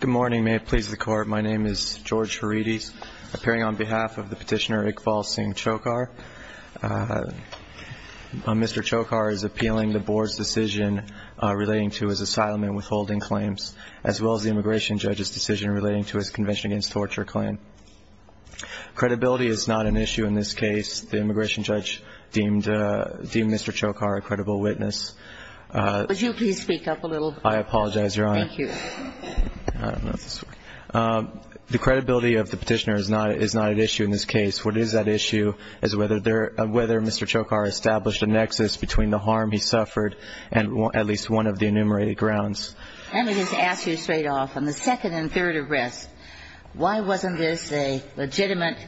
Good morning. May it please the Court, my name is George Haridi, appearing on behalf of the petitioner Iqbal Singh Chhokar. Mr. Chhokar is appealing the Board's decision relating to his asylum and withholding claims, as well as the Immigration Judge's decision relating to his Convention Against Torture claim. Credibility is not an issue in this case. The Immigration Judge deemed Mr. Chhokar a credible witness. Would you please speak up a little? I apologize, Your Honor. Thank you. The credibility of the petitioner is not an issue in this case. What is at issue is whether Mr. Chhokar established a nexus between the harm he suffered and at least one of the enumerated grounds. Let me just ask you straight off, on the second and third arrests, why wasn't this a legitimate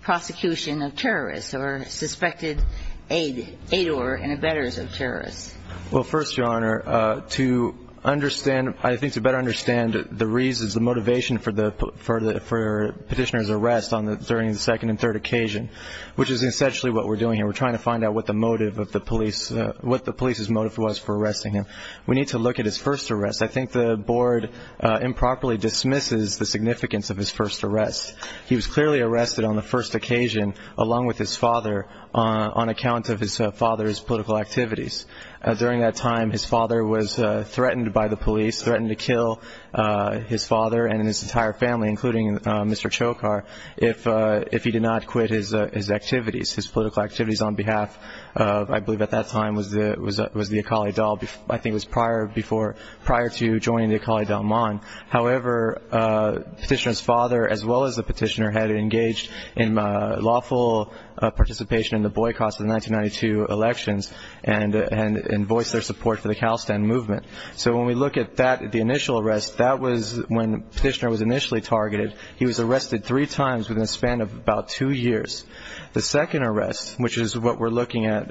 prosecution of terrorists or suspected aidor and abettors of terrorists? Well, first, Your Honor, to better understand the reasons, the motivation for the petitioner's arrest during the second and third occasion, which is essentially what we're doing here, we're trying to find out what the police's motive was for arresting him. We need to look at his first arrest. I think the Board improperly dismisses the significance of his first arrest. He was clearly arrested on the first occasion, along with his father, on account of his father's political activities. During that time, his father was threatened by the police, threatened to kill his father and his entire family, including Mr. Chhokar, if he did not quit his activities, his political activities on behalf of, I believe at that time, was the Akali Dalman, I think it was prior to joining the Akali Dalman. However, the petitioner's father, as well as the petitioner, had engaged in lawful participation in the boycotts of the 1992 elections and voiced their support for the Khalistan movement. So when we look at the initial arrest, that was when the petitioner was initially targeted. He was arrested three times within a span of about two years. The second arrest, which is what we're looking at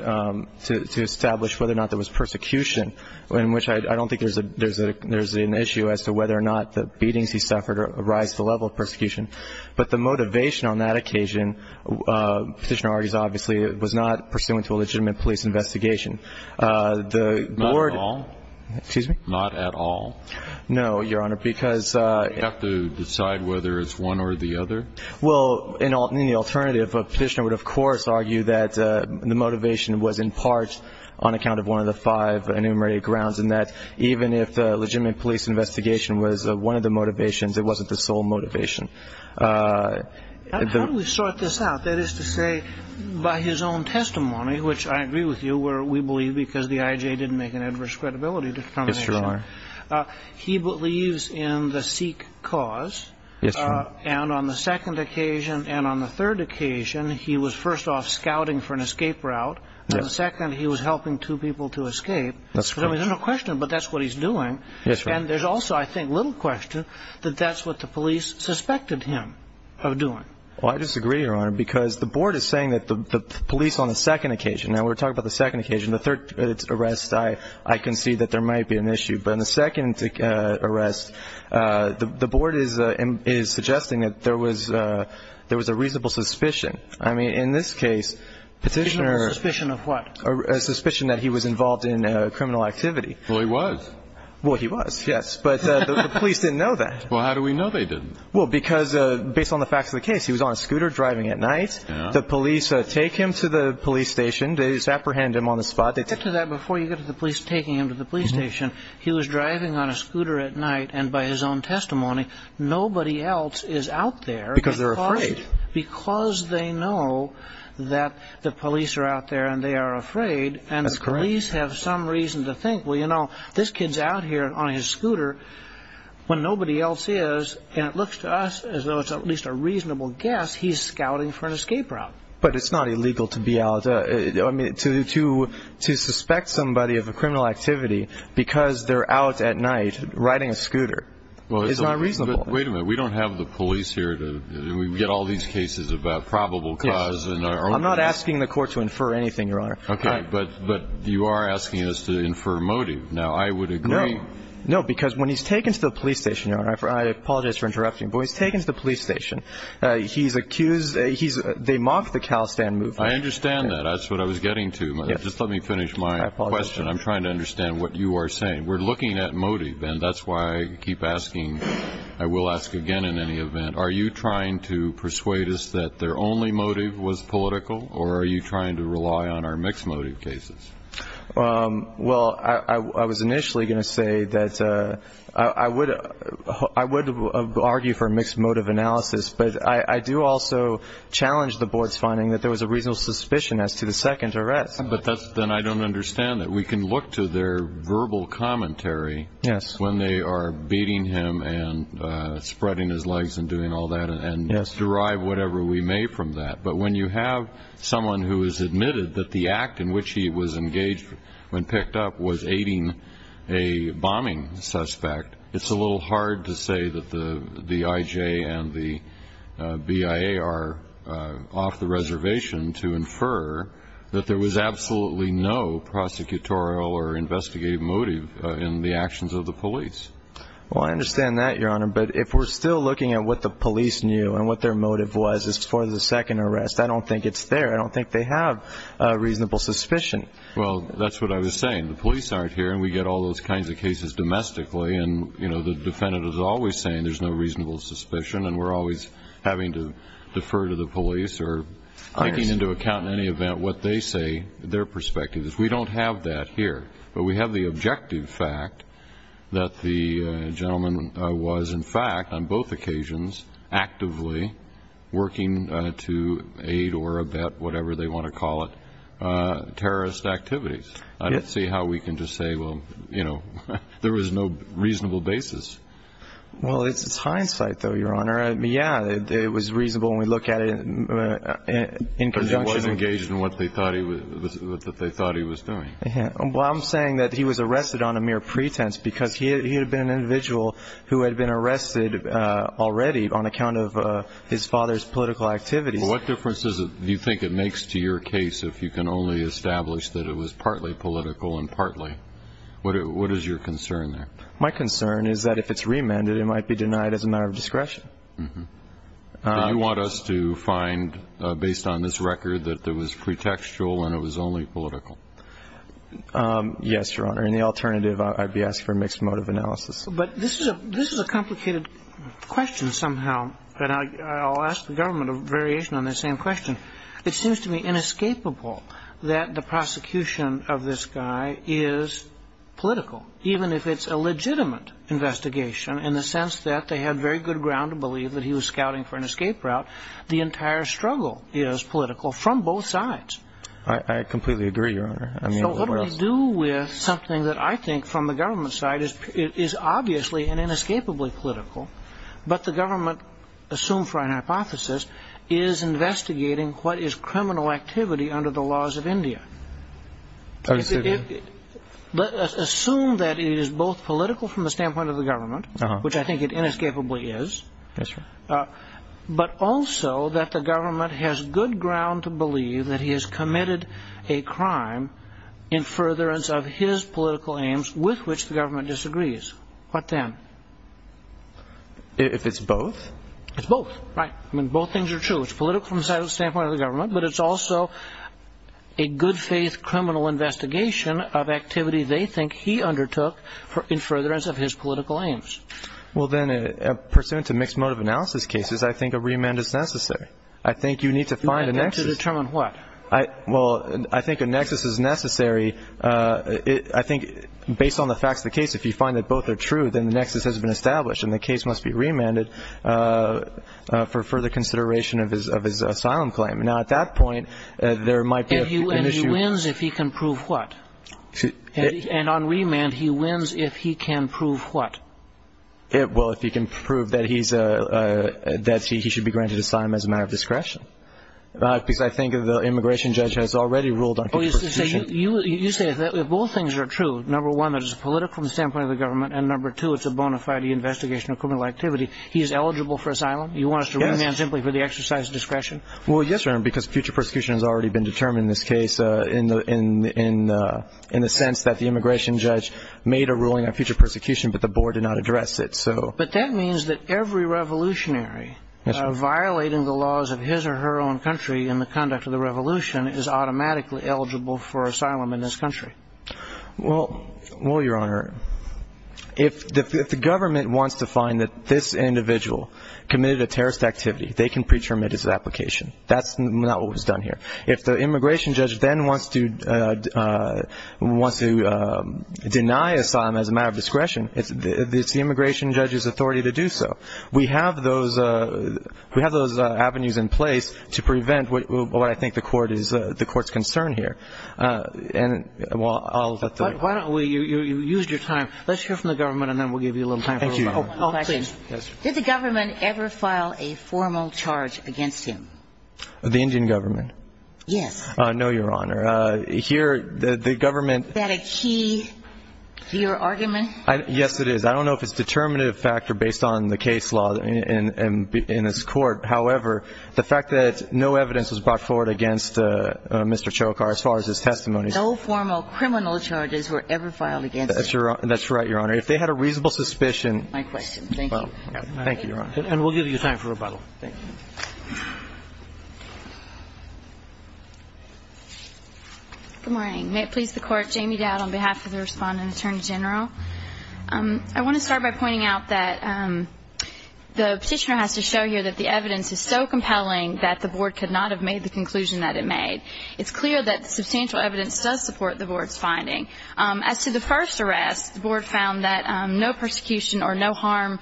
to establish whether or not there was persecution, in which I don't think there's an issue as to whether or not the beatings he suffered rise to the level of persecution. But the motivation on that occasion, petitioner argues, obviously, was not pursuant to a legitimate police investigation. The Board- Not at all? Excuse me? Not at all? No, Your Honor, because- You have to decide whether it's one or the other? Well, in the alternative, a petitioner would, of course, argue that the motivation was in part on account of one of the five enumerated grounds and that even if the legitimate police investigation was one of the motivations, it wasn't the sole motivation. How do we sort this out? That is to say, by his own testimony, which I agree with you, where we believe because the IJ didn't make an adverse credibility determination. Yes, Your Honor. He believes in the Sikh cause. Yes, Your Honor. And on the second occasion and on the third occasion, he was first off scouting for an escape route. And the second, he was helping two people to escape. That's correct. There's no question, but that's what he's doing. Yes, Your Honor. And there's also, I think, little question that that's what the police suspected him of doing. Well, I disagree, Your Honor, because the Board is saying that the police on the second occasion- Now, we're talking about the second occasion. The third arrest, I concede that there might be an issue. But in the second arrest, the Board is suggesting that there was a reasonable suspicion. I mean, in this case, petitioner- A suspicion of what? A suspicion that he was involved in criminal activity. Well, he was. Well, he was, yes. But the police didn't know that. Well, how do we know they didn't? Well, because based on the facts of the case, he was on a scooter driving at night. The police take him to the police station. They just apprehended him on the spot. Before you get to the police taking him to the police station, he was driving on a scooter at night. And by his own testimony, nobody else is out there- Because they're afraid. Because they know that the police are out there and they are afraid. And the police have some reason to think, well, you know, this kid's out here on his scooter when nobody else is. And it looks to us as though it's at least a reasonable guess he's scouting for an escape route. But it's not illegal to be out. To suspect somebody of a criminal activity because they're out at night riding a scooter is not reasonable. Wait a minute. We don't have the police here to get all these cases about probable cause. I'm not asking the court to infer anything, Your Honor. Okay. But you are asking us to infer a motive. Now, I would agree- No. No, because when he's taken to the police station, Your Honor- I apologize for interrupting- But when he's taken to the police station, he's accused- They mocked the Khalistan movement. I understand that. That's what I was getting to. Just let me finish my question. I'm trying to understand what you are saying. We're looking at motive, and that's why I keep asking. I will ask again in any event. Are you trying to persuade us that their only motive was political, or are you trying to rely on our mixed motive cases? Well, I was initially going to say that I would argue for mixed motive analysis, but I do also challenge the board's finding that there was a reasonable suspicion as to the second arrest. But then I don't understand that. We can look to their verbal commentary when they are beating him and spreading his legs and doing all that and derive whatever we may from that. But when you have someone who has admitted that the act in which he was engaged when picked up was aiding a bombing suspect, it's a little hard to say that the IJ and the BIA are off the reservation to infer that there was absolutely no prosecutorial or investigative motive in the actions of the police. Well, I understand that, Your Honor, but if we're still looking at what the police knew and what their motive was for the second arrest, I don't think it's there. I don't think they have a reasonable suspicion. Well, that's what I was saying. The police aren't here, and we get all those kinds of cases domestically, and the defendant is always saying there's no reasonable suspicion and we're always having to defer to the police or taking into account in any event what they say, their perspectives. We don't have that here. But we have the objective fact that the gentleman was, in fact, on both occasions, actively working to aid or abet whatever they want to call it, terrorist activities. I don't see how we can just say, well, you know, there was no reasonable basis. Well, it's hindsight, though, Your Honor. Yeah, it was reasonable when we look at it in conjunction. Because he was engaged in what they thought he was doing. Well, I'm saying that he was arrested on a mere pretense because he had been an individual who had been arrested already on account of his father's political activities. What difference do you think it makes to your case if you can only establish that it was partly political and partly? What is your concern there? My concern is that if it's reamended, it might be denied as a matter of discretion. Do you want us to find, based on this record, that it was pretextual and it was only political? Yes, Your Honor. And the alternative, I'd be asking for a mixed motive analysis. But this is a complicated question somehow, and I'll ask the government a variation on that same question. It seems to me inescapable that the prosecution of this guy is political, even if it's a legitimate investigation in the sense that they had very good ground to believe that he was scouting for an escape route. The entire struggle is political from both sides. I completely agree, Your Honor. So what we do with something that I think from the government side is obviously and inescapably political, but the government, assumed for an hypothesis, is investigating what is criminal activity under the laws of India. Assume that it is both political from the standpoint of the government, which I think it inescapably is, but also that the government has good ground to believe that he has committed a crime in furtherance of his political aims, with which the government disagrees. What then? If it's both? It's both. Right. I mean, both things are true. It's political from the standpoint of the government, but it's also a good faith criminal investigation of activity they think he undertook in furtherance of his political aims. Well, then, pursuant to mixed motive analysis cases, I think a remand is necessary. I think you need to find a nexus. To determine what? Well, I think a nexus is necessary. I think based on the facts of the case, if you find that both are true, then the nexus has been established and the case must be remanded for further consideration of his asylum claim. Now, at that point, there might be an issue. And he wins if he can prove what? And on remand, he wins if he can prove what? Well, if he can prove that he should be granted asylum as a matter of discretion. Because I think the immigration judge has already ruled on future prosecution. You say that if both things are true, number one, that it's political from the standpoint of the government, and number two, it's a bona fide investigation of criminal activity, he is eligible for asylum? Yes. You want us to remand simply for the exercise of discretion? Well, yes, Your Honor, because future prosecution has already been determined in this case in the sense that the immigration judge made a ruling on future persecution, but the board did not address it. But that means that every revolutionary violating the laws of his or her own country in the conduct of the revolution is automatically eligible for asylum in this country. Well, Your Honor, if the government wants to find that this individual committed a terrorist activity, they can pre-term it as an application. That's not what was done here. If the immigration judge then wants to deny asylum as a matter of discretion, it's the immigration judge's authority to do so. We have those avenues in place to prevent what I think the Court is concerned here. And while I'll let the others. Why don't we use your time. Let's hear from the government, and then we'll give you a little time. Thank you, Your Honor. Did the government ever file a formal charge against him? The Indian government? Yes. No, Your Honor. Here, the government ---- Is that a key to your argument? Yes, it is. I don't know if it's a determinative factor based on the case law in this Court. However, the fact that no evidence was brought forward against Mr. Chokhar as far as his testimony ---- No formal criminal charges were ever filed against him. That's right, Your Honor. If they had a reasonable suspicion ---- My question. Thank you. Thank you, Your Honor. And we'll give you time for rebuttal. Thank you. Good morning. May it please the Court. Jamie Dowd on behalf of the Respondent Attorney General. I want to start by pointing out that the Petitioner has to show here that the evidence is so compelling that the Board could not have made the conclusion that it made. It's clear that the substantial evidence does support the Board's finding. As to the first arrest, the Board found that no persecution or no harm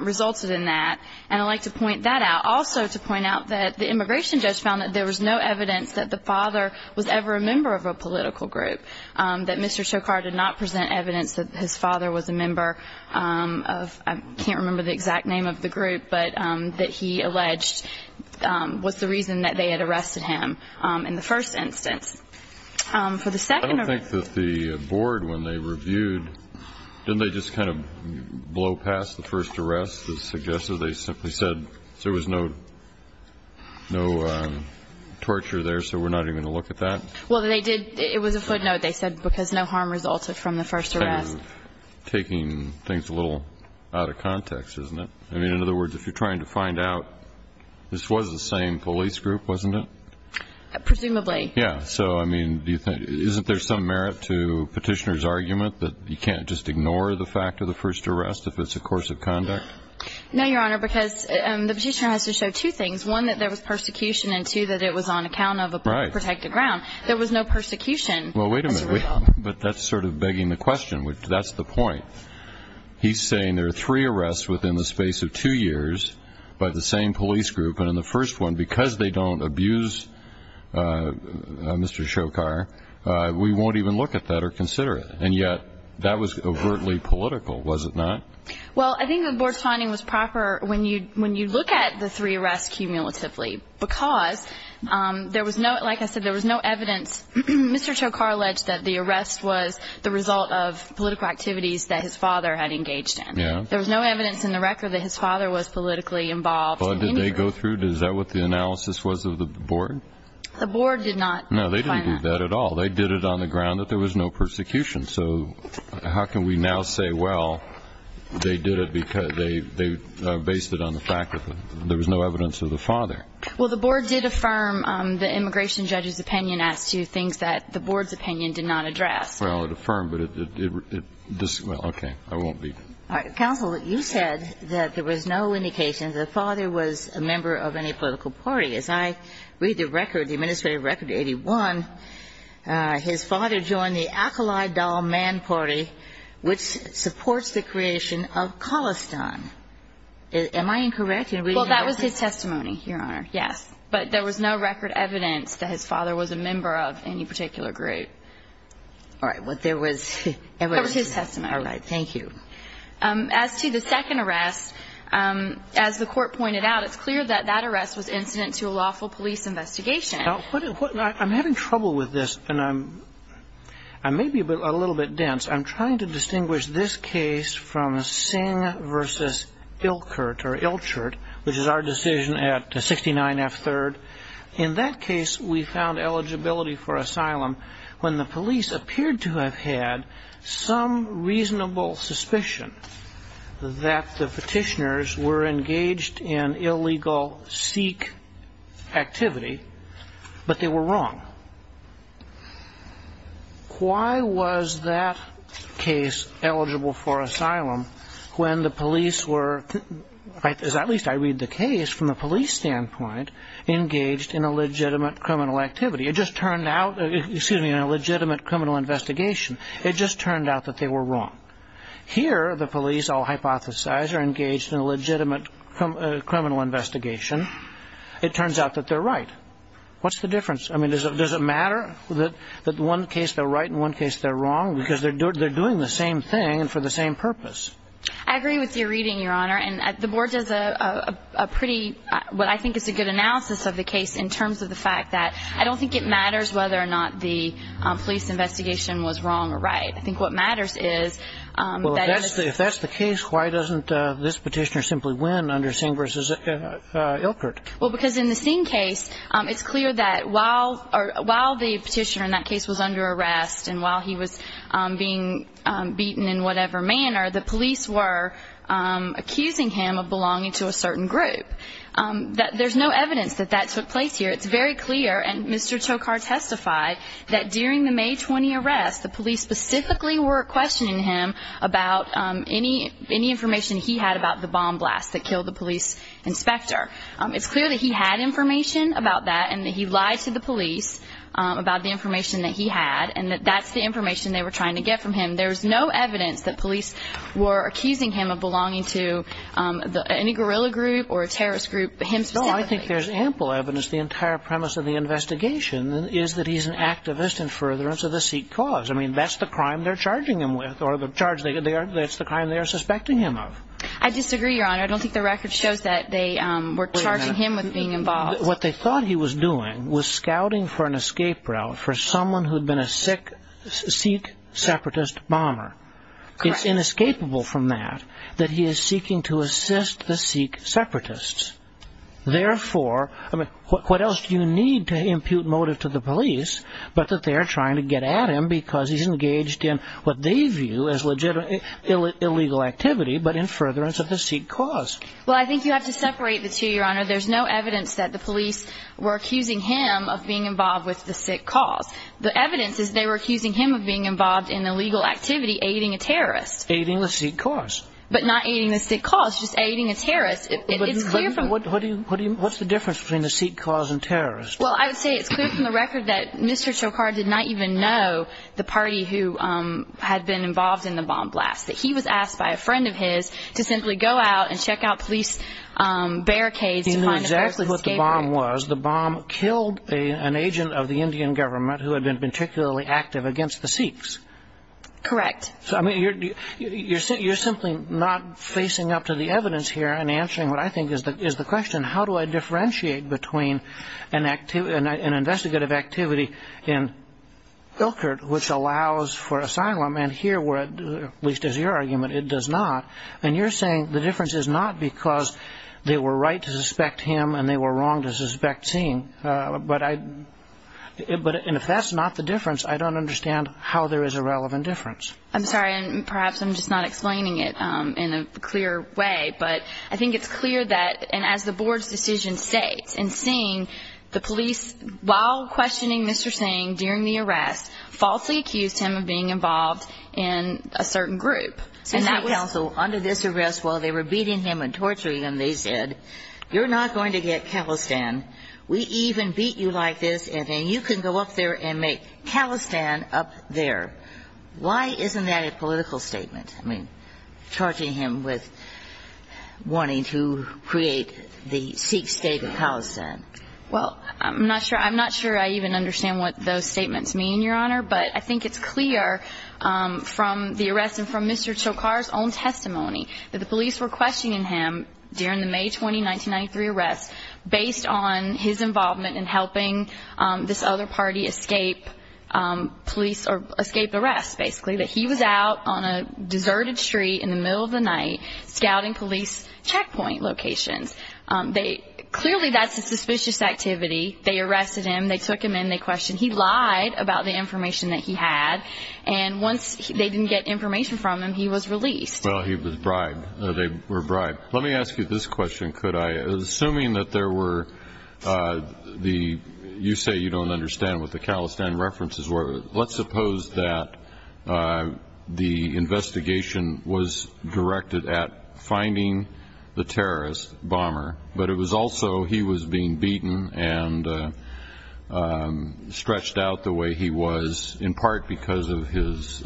resulted in that. And I'd like to point that out. Also to point out that the immigration judge found that there was no evidence that the father was ever a member of a political group, that Mr. Chokhar did not present evidence that his father was a member of ---- I can't remember the exact name of the group, but that he alleged was the reason that they had arrested him in the first instance. For the second ---- I don't think that the Board, when they reviewed, didn't they just kind of blow past the first arrest that suggested they simply said there was no torture there, so we're not even going to look at that? Well, they did. It was a footnote. They said because no harm resulted from the first arrest. Taking things a little out of context, isn't it? I mean, in other words, if you're trying to find out this was the same police group, wasn't it? Presumably. Yeah, so, I mean, isn't there some merit to Petitioner's argument that you can't just ignore the fact of the first arrest if it's a course of conduct? No, Your Honor, because the Petitioner has to show two things, one that there was persecution and two that it was on account of a protected ground. There was no persecution. Well, wait a minute. But that's sort of begging the question. That's the point. He's saying there are three arrests within the space of two years by the same police group, and in the first one, because they don't abuse Mr. Choukar, we won't even look at that or consider it. And yet that was overtly political, was it not? Well, I think the board's finding was proper when you look at the three arrests cumulatively because there was no, like I said, there was no evidence. Mr. Choukar alleged that the arrest was the result of political activities that his father had engaged in. There was no evidence in the record that his father was politically involved. Well, did they go through? Is that what the analysis was of the board? The board did not find that. No, they didn't do that at all. They did it on the ground that there was no persecution. So how can we now say, well, they did it because they based it on the fact that there was no evidence of the father? Well, the board did affirm the immigration judge's opinion as to things that the board's opinion did not address. Well, it affirmed, but it, well, okay, I won't be. All right. Counsel, you said that there was no indication that the father was a member of any political party. As I read the record, the administrative record, 81, his father joined the Al-Khalid al-Man party, which supports the creation of Khalistan. Am I incorrect in reading that? Well, that was his testimony, Your Honor, yes. But there was no record evidence that his father was a member of any particular group. All right. But there was evidence. That was his testimony. All right. Thank you. As to the second arrest, as the court pointed out, it's clear that that arrest was incident to a lawful police investigation. Now, I'm having trouble with this, and I may be a little bit dense. I'm trying to distinguish this case from Singh v. Ilkert or Ilkert, which is our decision at 69F3rd. In that case, we found eligibility for asylum when the police appeared to have had some reasonable suspicion that the petitioners were engaged in illegal Sikh activity, but they were wrong. Why was that case eligible for asylum when the police were, at least I read the case, from a police standpoint, engaged in a legitimate criminal activity? It just turned out, excuse me, in a legitimate criminal investigation, it just turned out that they were wrong. Here, the police, I'll hypothesize, are engaged in a legitimate criminal investigation. It turns out that they're right. What's the difference? I mean, does it matter that in one case they're right and in one case they're wrong because they're doing the same thing and for the same purpose? I agree with your reading, Your Honor. And the Board does a pretty, what I think is a good analysis of the case in terms of the fact that I don't think it matters whether or not the police investigation was wrong or right. I think what matters is that it's- Well, if that's the case, why doesn't this petitioner simply win under Singh v. Ilkert? Well, because in the Singh case, it's clear that while the petitioner in that case was under arrest and while he was being beaten in whatever manner, the police were accusing him of belonging to a certain group. There's no evidence that that took place here. It's very clear, and Mr. Chokhar testified, that during the May 20 arrests, the police specifically were questioning him about any information he had about the bomb blast that killed the police inspector. It's clear that he had information about that and that he lied to the police about the information that he had and that that's the information they were trying to get from him. There's no evidence that police were accusing him of belonging to any guerrilla group or a terrorist group, him specifically. No, I think there's ample evidence. The entire premise of the investigation is that he's an activist in furtherance of the Sikh cause. I mean, that's the crime they're charging him with, or that's the crime they're suspecting him of. I disagree, Your Honor. I don't think the record shows that they were charging him with being involved. What they thought he was doing was scouting for an escape route for someone who had been a Sikh separatist bomber. It's inescapable from that that he is seeking to assist the Sikh separatists. Therefore, what else do you need to impute motive to the police but that they are trying to get at him because he's engaged in what they view as illegal activity but in furtherance of the Sikh cause? Well, I think you have to separate the two, Your Honor. There's no evidence that the police were accusing him of being involved with the Sikh cause. The evidence is they were accusing him of being involved in illegal activity, aiding a terrorist. Aiding the Sikh cause. But not aiding the Sikh cause, just aiding a terrorist. What's the difference between the Sikh cause and terrorist? Well, I would say it's clear from the record that Mr. Chokhar did not even know the party who had been involved in the bomb blast, that he was asked by a friend of his to simply go out and check out police barricades. He knew exactly what the bomb was. The bomb killed an agent of the Indian government who had been particularly active against the Sikhs. Correct. You're simply not facing up to the evidence here and answering what I think is the question, how do I differentiate between an investigative activity in Ilkert, which allows for asylum, and here where, at least as your argument, it does not. And you're saying the difference is not because they were right to suspect him and they were wrong to suspect Singh. But if that's not the difference, I don't understand how there is a relevant difference. I'm sorry. Perhaps I'm just not explaining it in a clear way. But I think it's clear that, and as the board's decision states, in seeing the police, while questioning Mr. Singh during the arrest, falsely accused him of being involved in a certain group. And that was... Under this arrest, while they were beating him and torturing him, they said, you're not going to get Khalistan, we even beat you like this, and then you can go up there and make Khalistan up there. Why isn't that a political statement? I mean, torturing him with wanting to create the Sikh state of Khalistan. Well, I'm not sure I even understand what those statements mean, Your Honor. But I think it's clear from the arrest and from Mr. Chokar's own testimony that the police were questioning him during the May 20, 1993 arrest based on his involvement in helping this other party escape police or escape the rest, basically. That he was out on a deserted street in the middle of the night scouting police checkpoint locations. Clearly that's a suspicious activity. They arrested him, they took him in, they questioned him. He lied about the information that he had. And once they didn't get information from him, he was released. Well, he was bribed. They were bribed. Let me ask you this question, could I? Assuming that there were the, you say you don't understand what the Khalistan references were, let's suppose that the investigation was directed at finding the terrorist bomber, but it was also he was being beaten and stretched out the way he was, in part because of his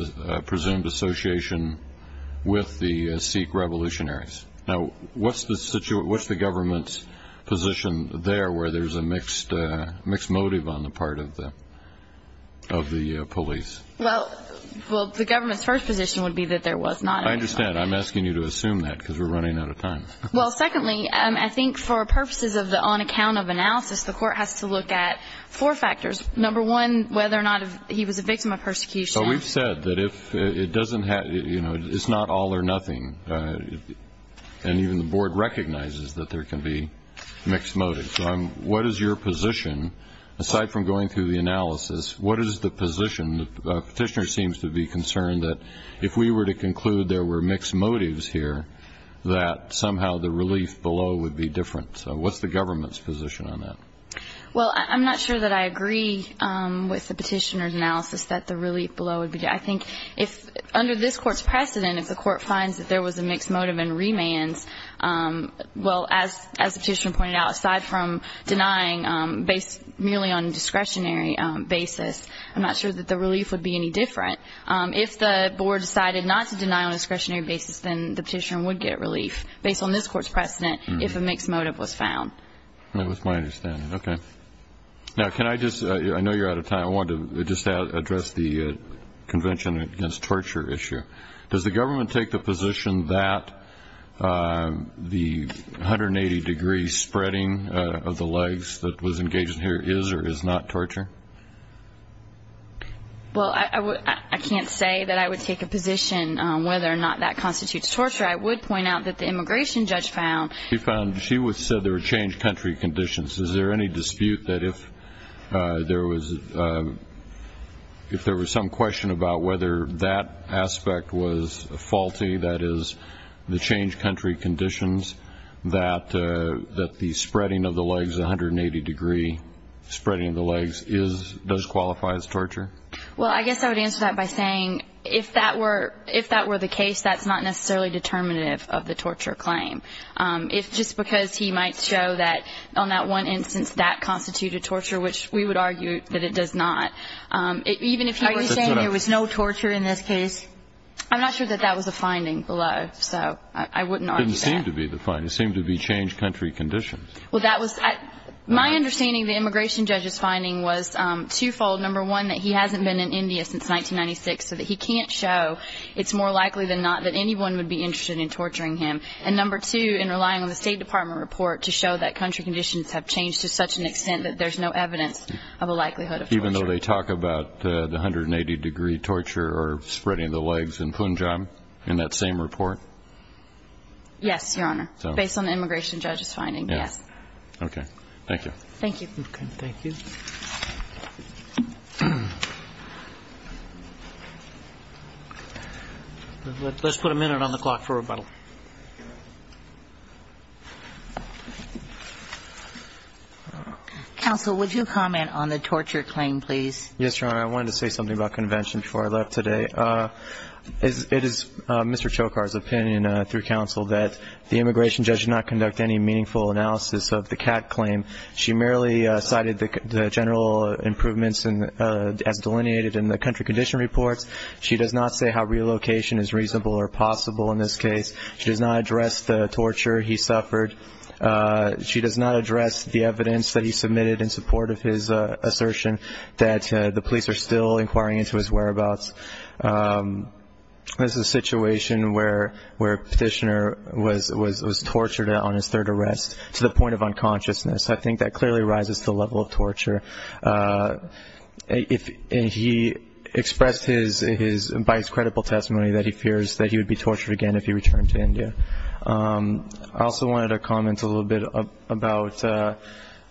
presumed association with the Sikh revolutionaries. Now, what's the government's position there where there's a mixed motive on the part of the police? Well, the government's first position would be that there was not. I understand. I'm asking you to assume that because we're running out of time. Well, secondly, I think for purposes of the on account of analysis, the court has to look at four factors. Number one, whether or not he was a victim of persecution. So we've said that if it doesn't have, you know, it's not all or nothing. And even the board recognizes that there can be mixed motives. What is your position, aside from going through the analysis, what is the position? The petitioner seems to be concerned that if we were to conclude there were mixed motives here, that somehow the relief below would be different. So what's the government's position on that? Well, I'm not sure that I agree with the petitioner's analysis that the relief below would be. I think if under this court's precedent, if the court finds that there was a mixed motive in remands, well, as the petitioner pointed out, aside from denying based merely on discretionary basis, I'm not sure that the relief would be any different. If the board decided not to deny on a discretionary basis, then the petitioner would get relief based on this court's precedent if a mixed motive was found. That was my understanding. Okay. Now, can I just – I know you're out of time. I wanted to just address the convention against torture issue. Does the government take the position that the 180-degree spreading of the legs that was engaged here is or is not torture? Well, I can't say that I would take a position on whether or not that constitutes torture. I would point out that the immigration judge found – she found – she said there were changed country conditions. Is there any dispute that if there was some question about whether that aspect was faulty, that is the changed country conditions, that the spreading of the legs, the 180-degree spreading of the legs does qualify as torture? Well, I guess I would answer that by saying if that were the case, that's not necessarily determinative of the torture claim. It's just because he might show that on that one instance that constituted torture, which we would argue that it does not. Are you saying there was no torture in this case? I'm not sure that that was the finding below, so I wouldn't argue that. It didn't seem to be the finding. It seemed to be changed country conditions. Well, that was – my understanding of the immigration judge's finding was twofold. Number one, that he hasn't been in India since 1996, so that he can't show it's more likely than not that anyone would be interested in torturing him. And number two, in relying on the State Department report to show that country conditions have changed to such an extent that there's no evidence of a likelihood of torture. Even though they talk about the 180-degree torture or spreading of the legs in Punjab in that same report? Yes, Your Honor, based on the immigration judge's finding, yes. Okay. Thank you. Thank you. Okay, thank you. Let's put a minute on the clock for rebuttal. Counsel, would you comment on the torture claim, please? Yes, Your Honor. I wanted to say something about convention before I left today. It is Mr. Chokhar's opinion through counsel that the immigration judge did not conduct any meaningful analysis of the CAT claim. She merely cited the general improvements as delineated in the country condition reports. She does not say how relocation is reasonable or possible in this case. She does not address the torture he suffered. She does not address the evidence that he submitted in support of his assertion that the police are still inquiring into his whereabouts. This is a situation where a petitioner was tortured on his third arrest to the point of unconsciousness. I think that clearly rises to the level of torture. He expressed by his credible testimony that he fears that he would be tortured again if he returned to India. I also wanted to comment a little bit about the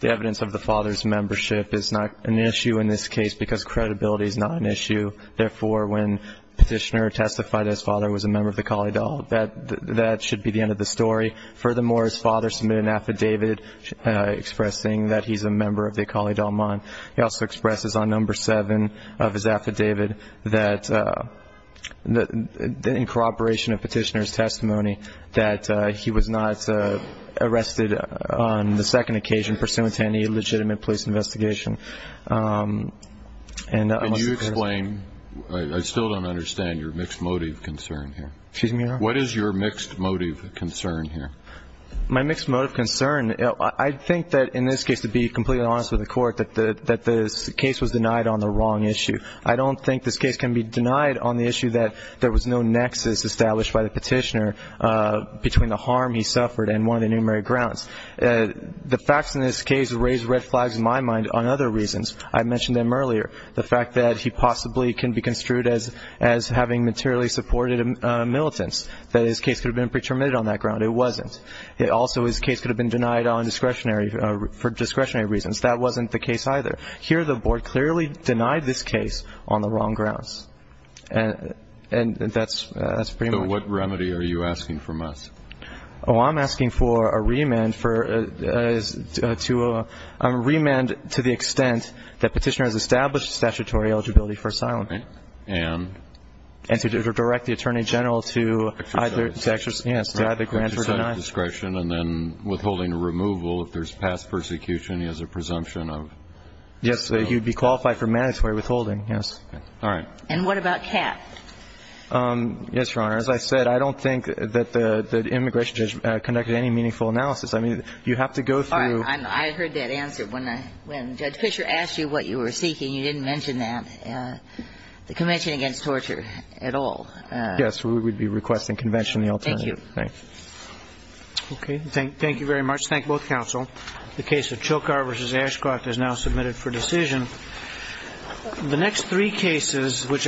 evidence of the father's membership is not an issue in this case because credibility is not an issue. Therefore, when petitioner testified that his father was a member of the Kali Dal, that should be the end of the story. Furthermore, his father submitted an affidavit expressing that he's a member of the Kali Dal mind. He also expresses on number seven of his affidavit that in corroboration of petitioner's testimony, that he was not arrested on the second occasion pursuant to any legitimate police investigation. And you explain. I still don't understand your mixed motive concern here. Excuse me. What is your mixed motive concern here? My mixed motive concern. I think that in this case, to be completely honest with the court, that the case was denied on the wrong issue. I don't think this case can be denied on the issue that there was no nexus established by the petitioner between the harm he suffered and one of the numeric grounds. The facts in this case raise red flags in my mind on other reasons. I mentioned them earlier. The fact that he possibly can be construed as having materially supported militants. That his case could have been pre-terminated on that ground. It wasn't. Also, his case could have been denied for discretionary reasons. That wasn't the case either. Here, the board clearly denied this case on the wrong grounds. And that's pretty much it. So what remedy are you asking from us? Oh, I'm asking for a remand to the extent that petitioner has established statutory eligibility for asylum. And? And to direct the Attorney General to either grant or deny. Discretion and then withholding removal if there's past persecution as a presumption of? Yes, he would be qualified for mandatory withholding, yes. All right. And what about cap? Yes, Your Honor. As I said, I don't think that the immigration judge conducted any meaningful analysis. I mean, you have to go through. All right. I heard that answer. When Judge Fisher asked you what you were seeking, you didn't mention that. The Convention Against Torture at all. Yes. We would be requesting conventionally alternative. Thank you. Thanks. Okay. Thank you very much. Thank both counsel. The case of Chilkar v. Ashcroft is now submitted for decision. The next three cases which are.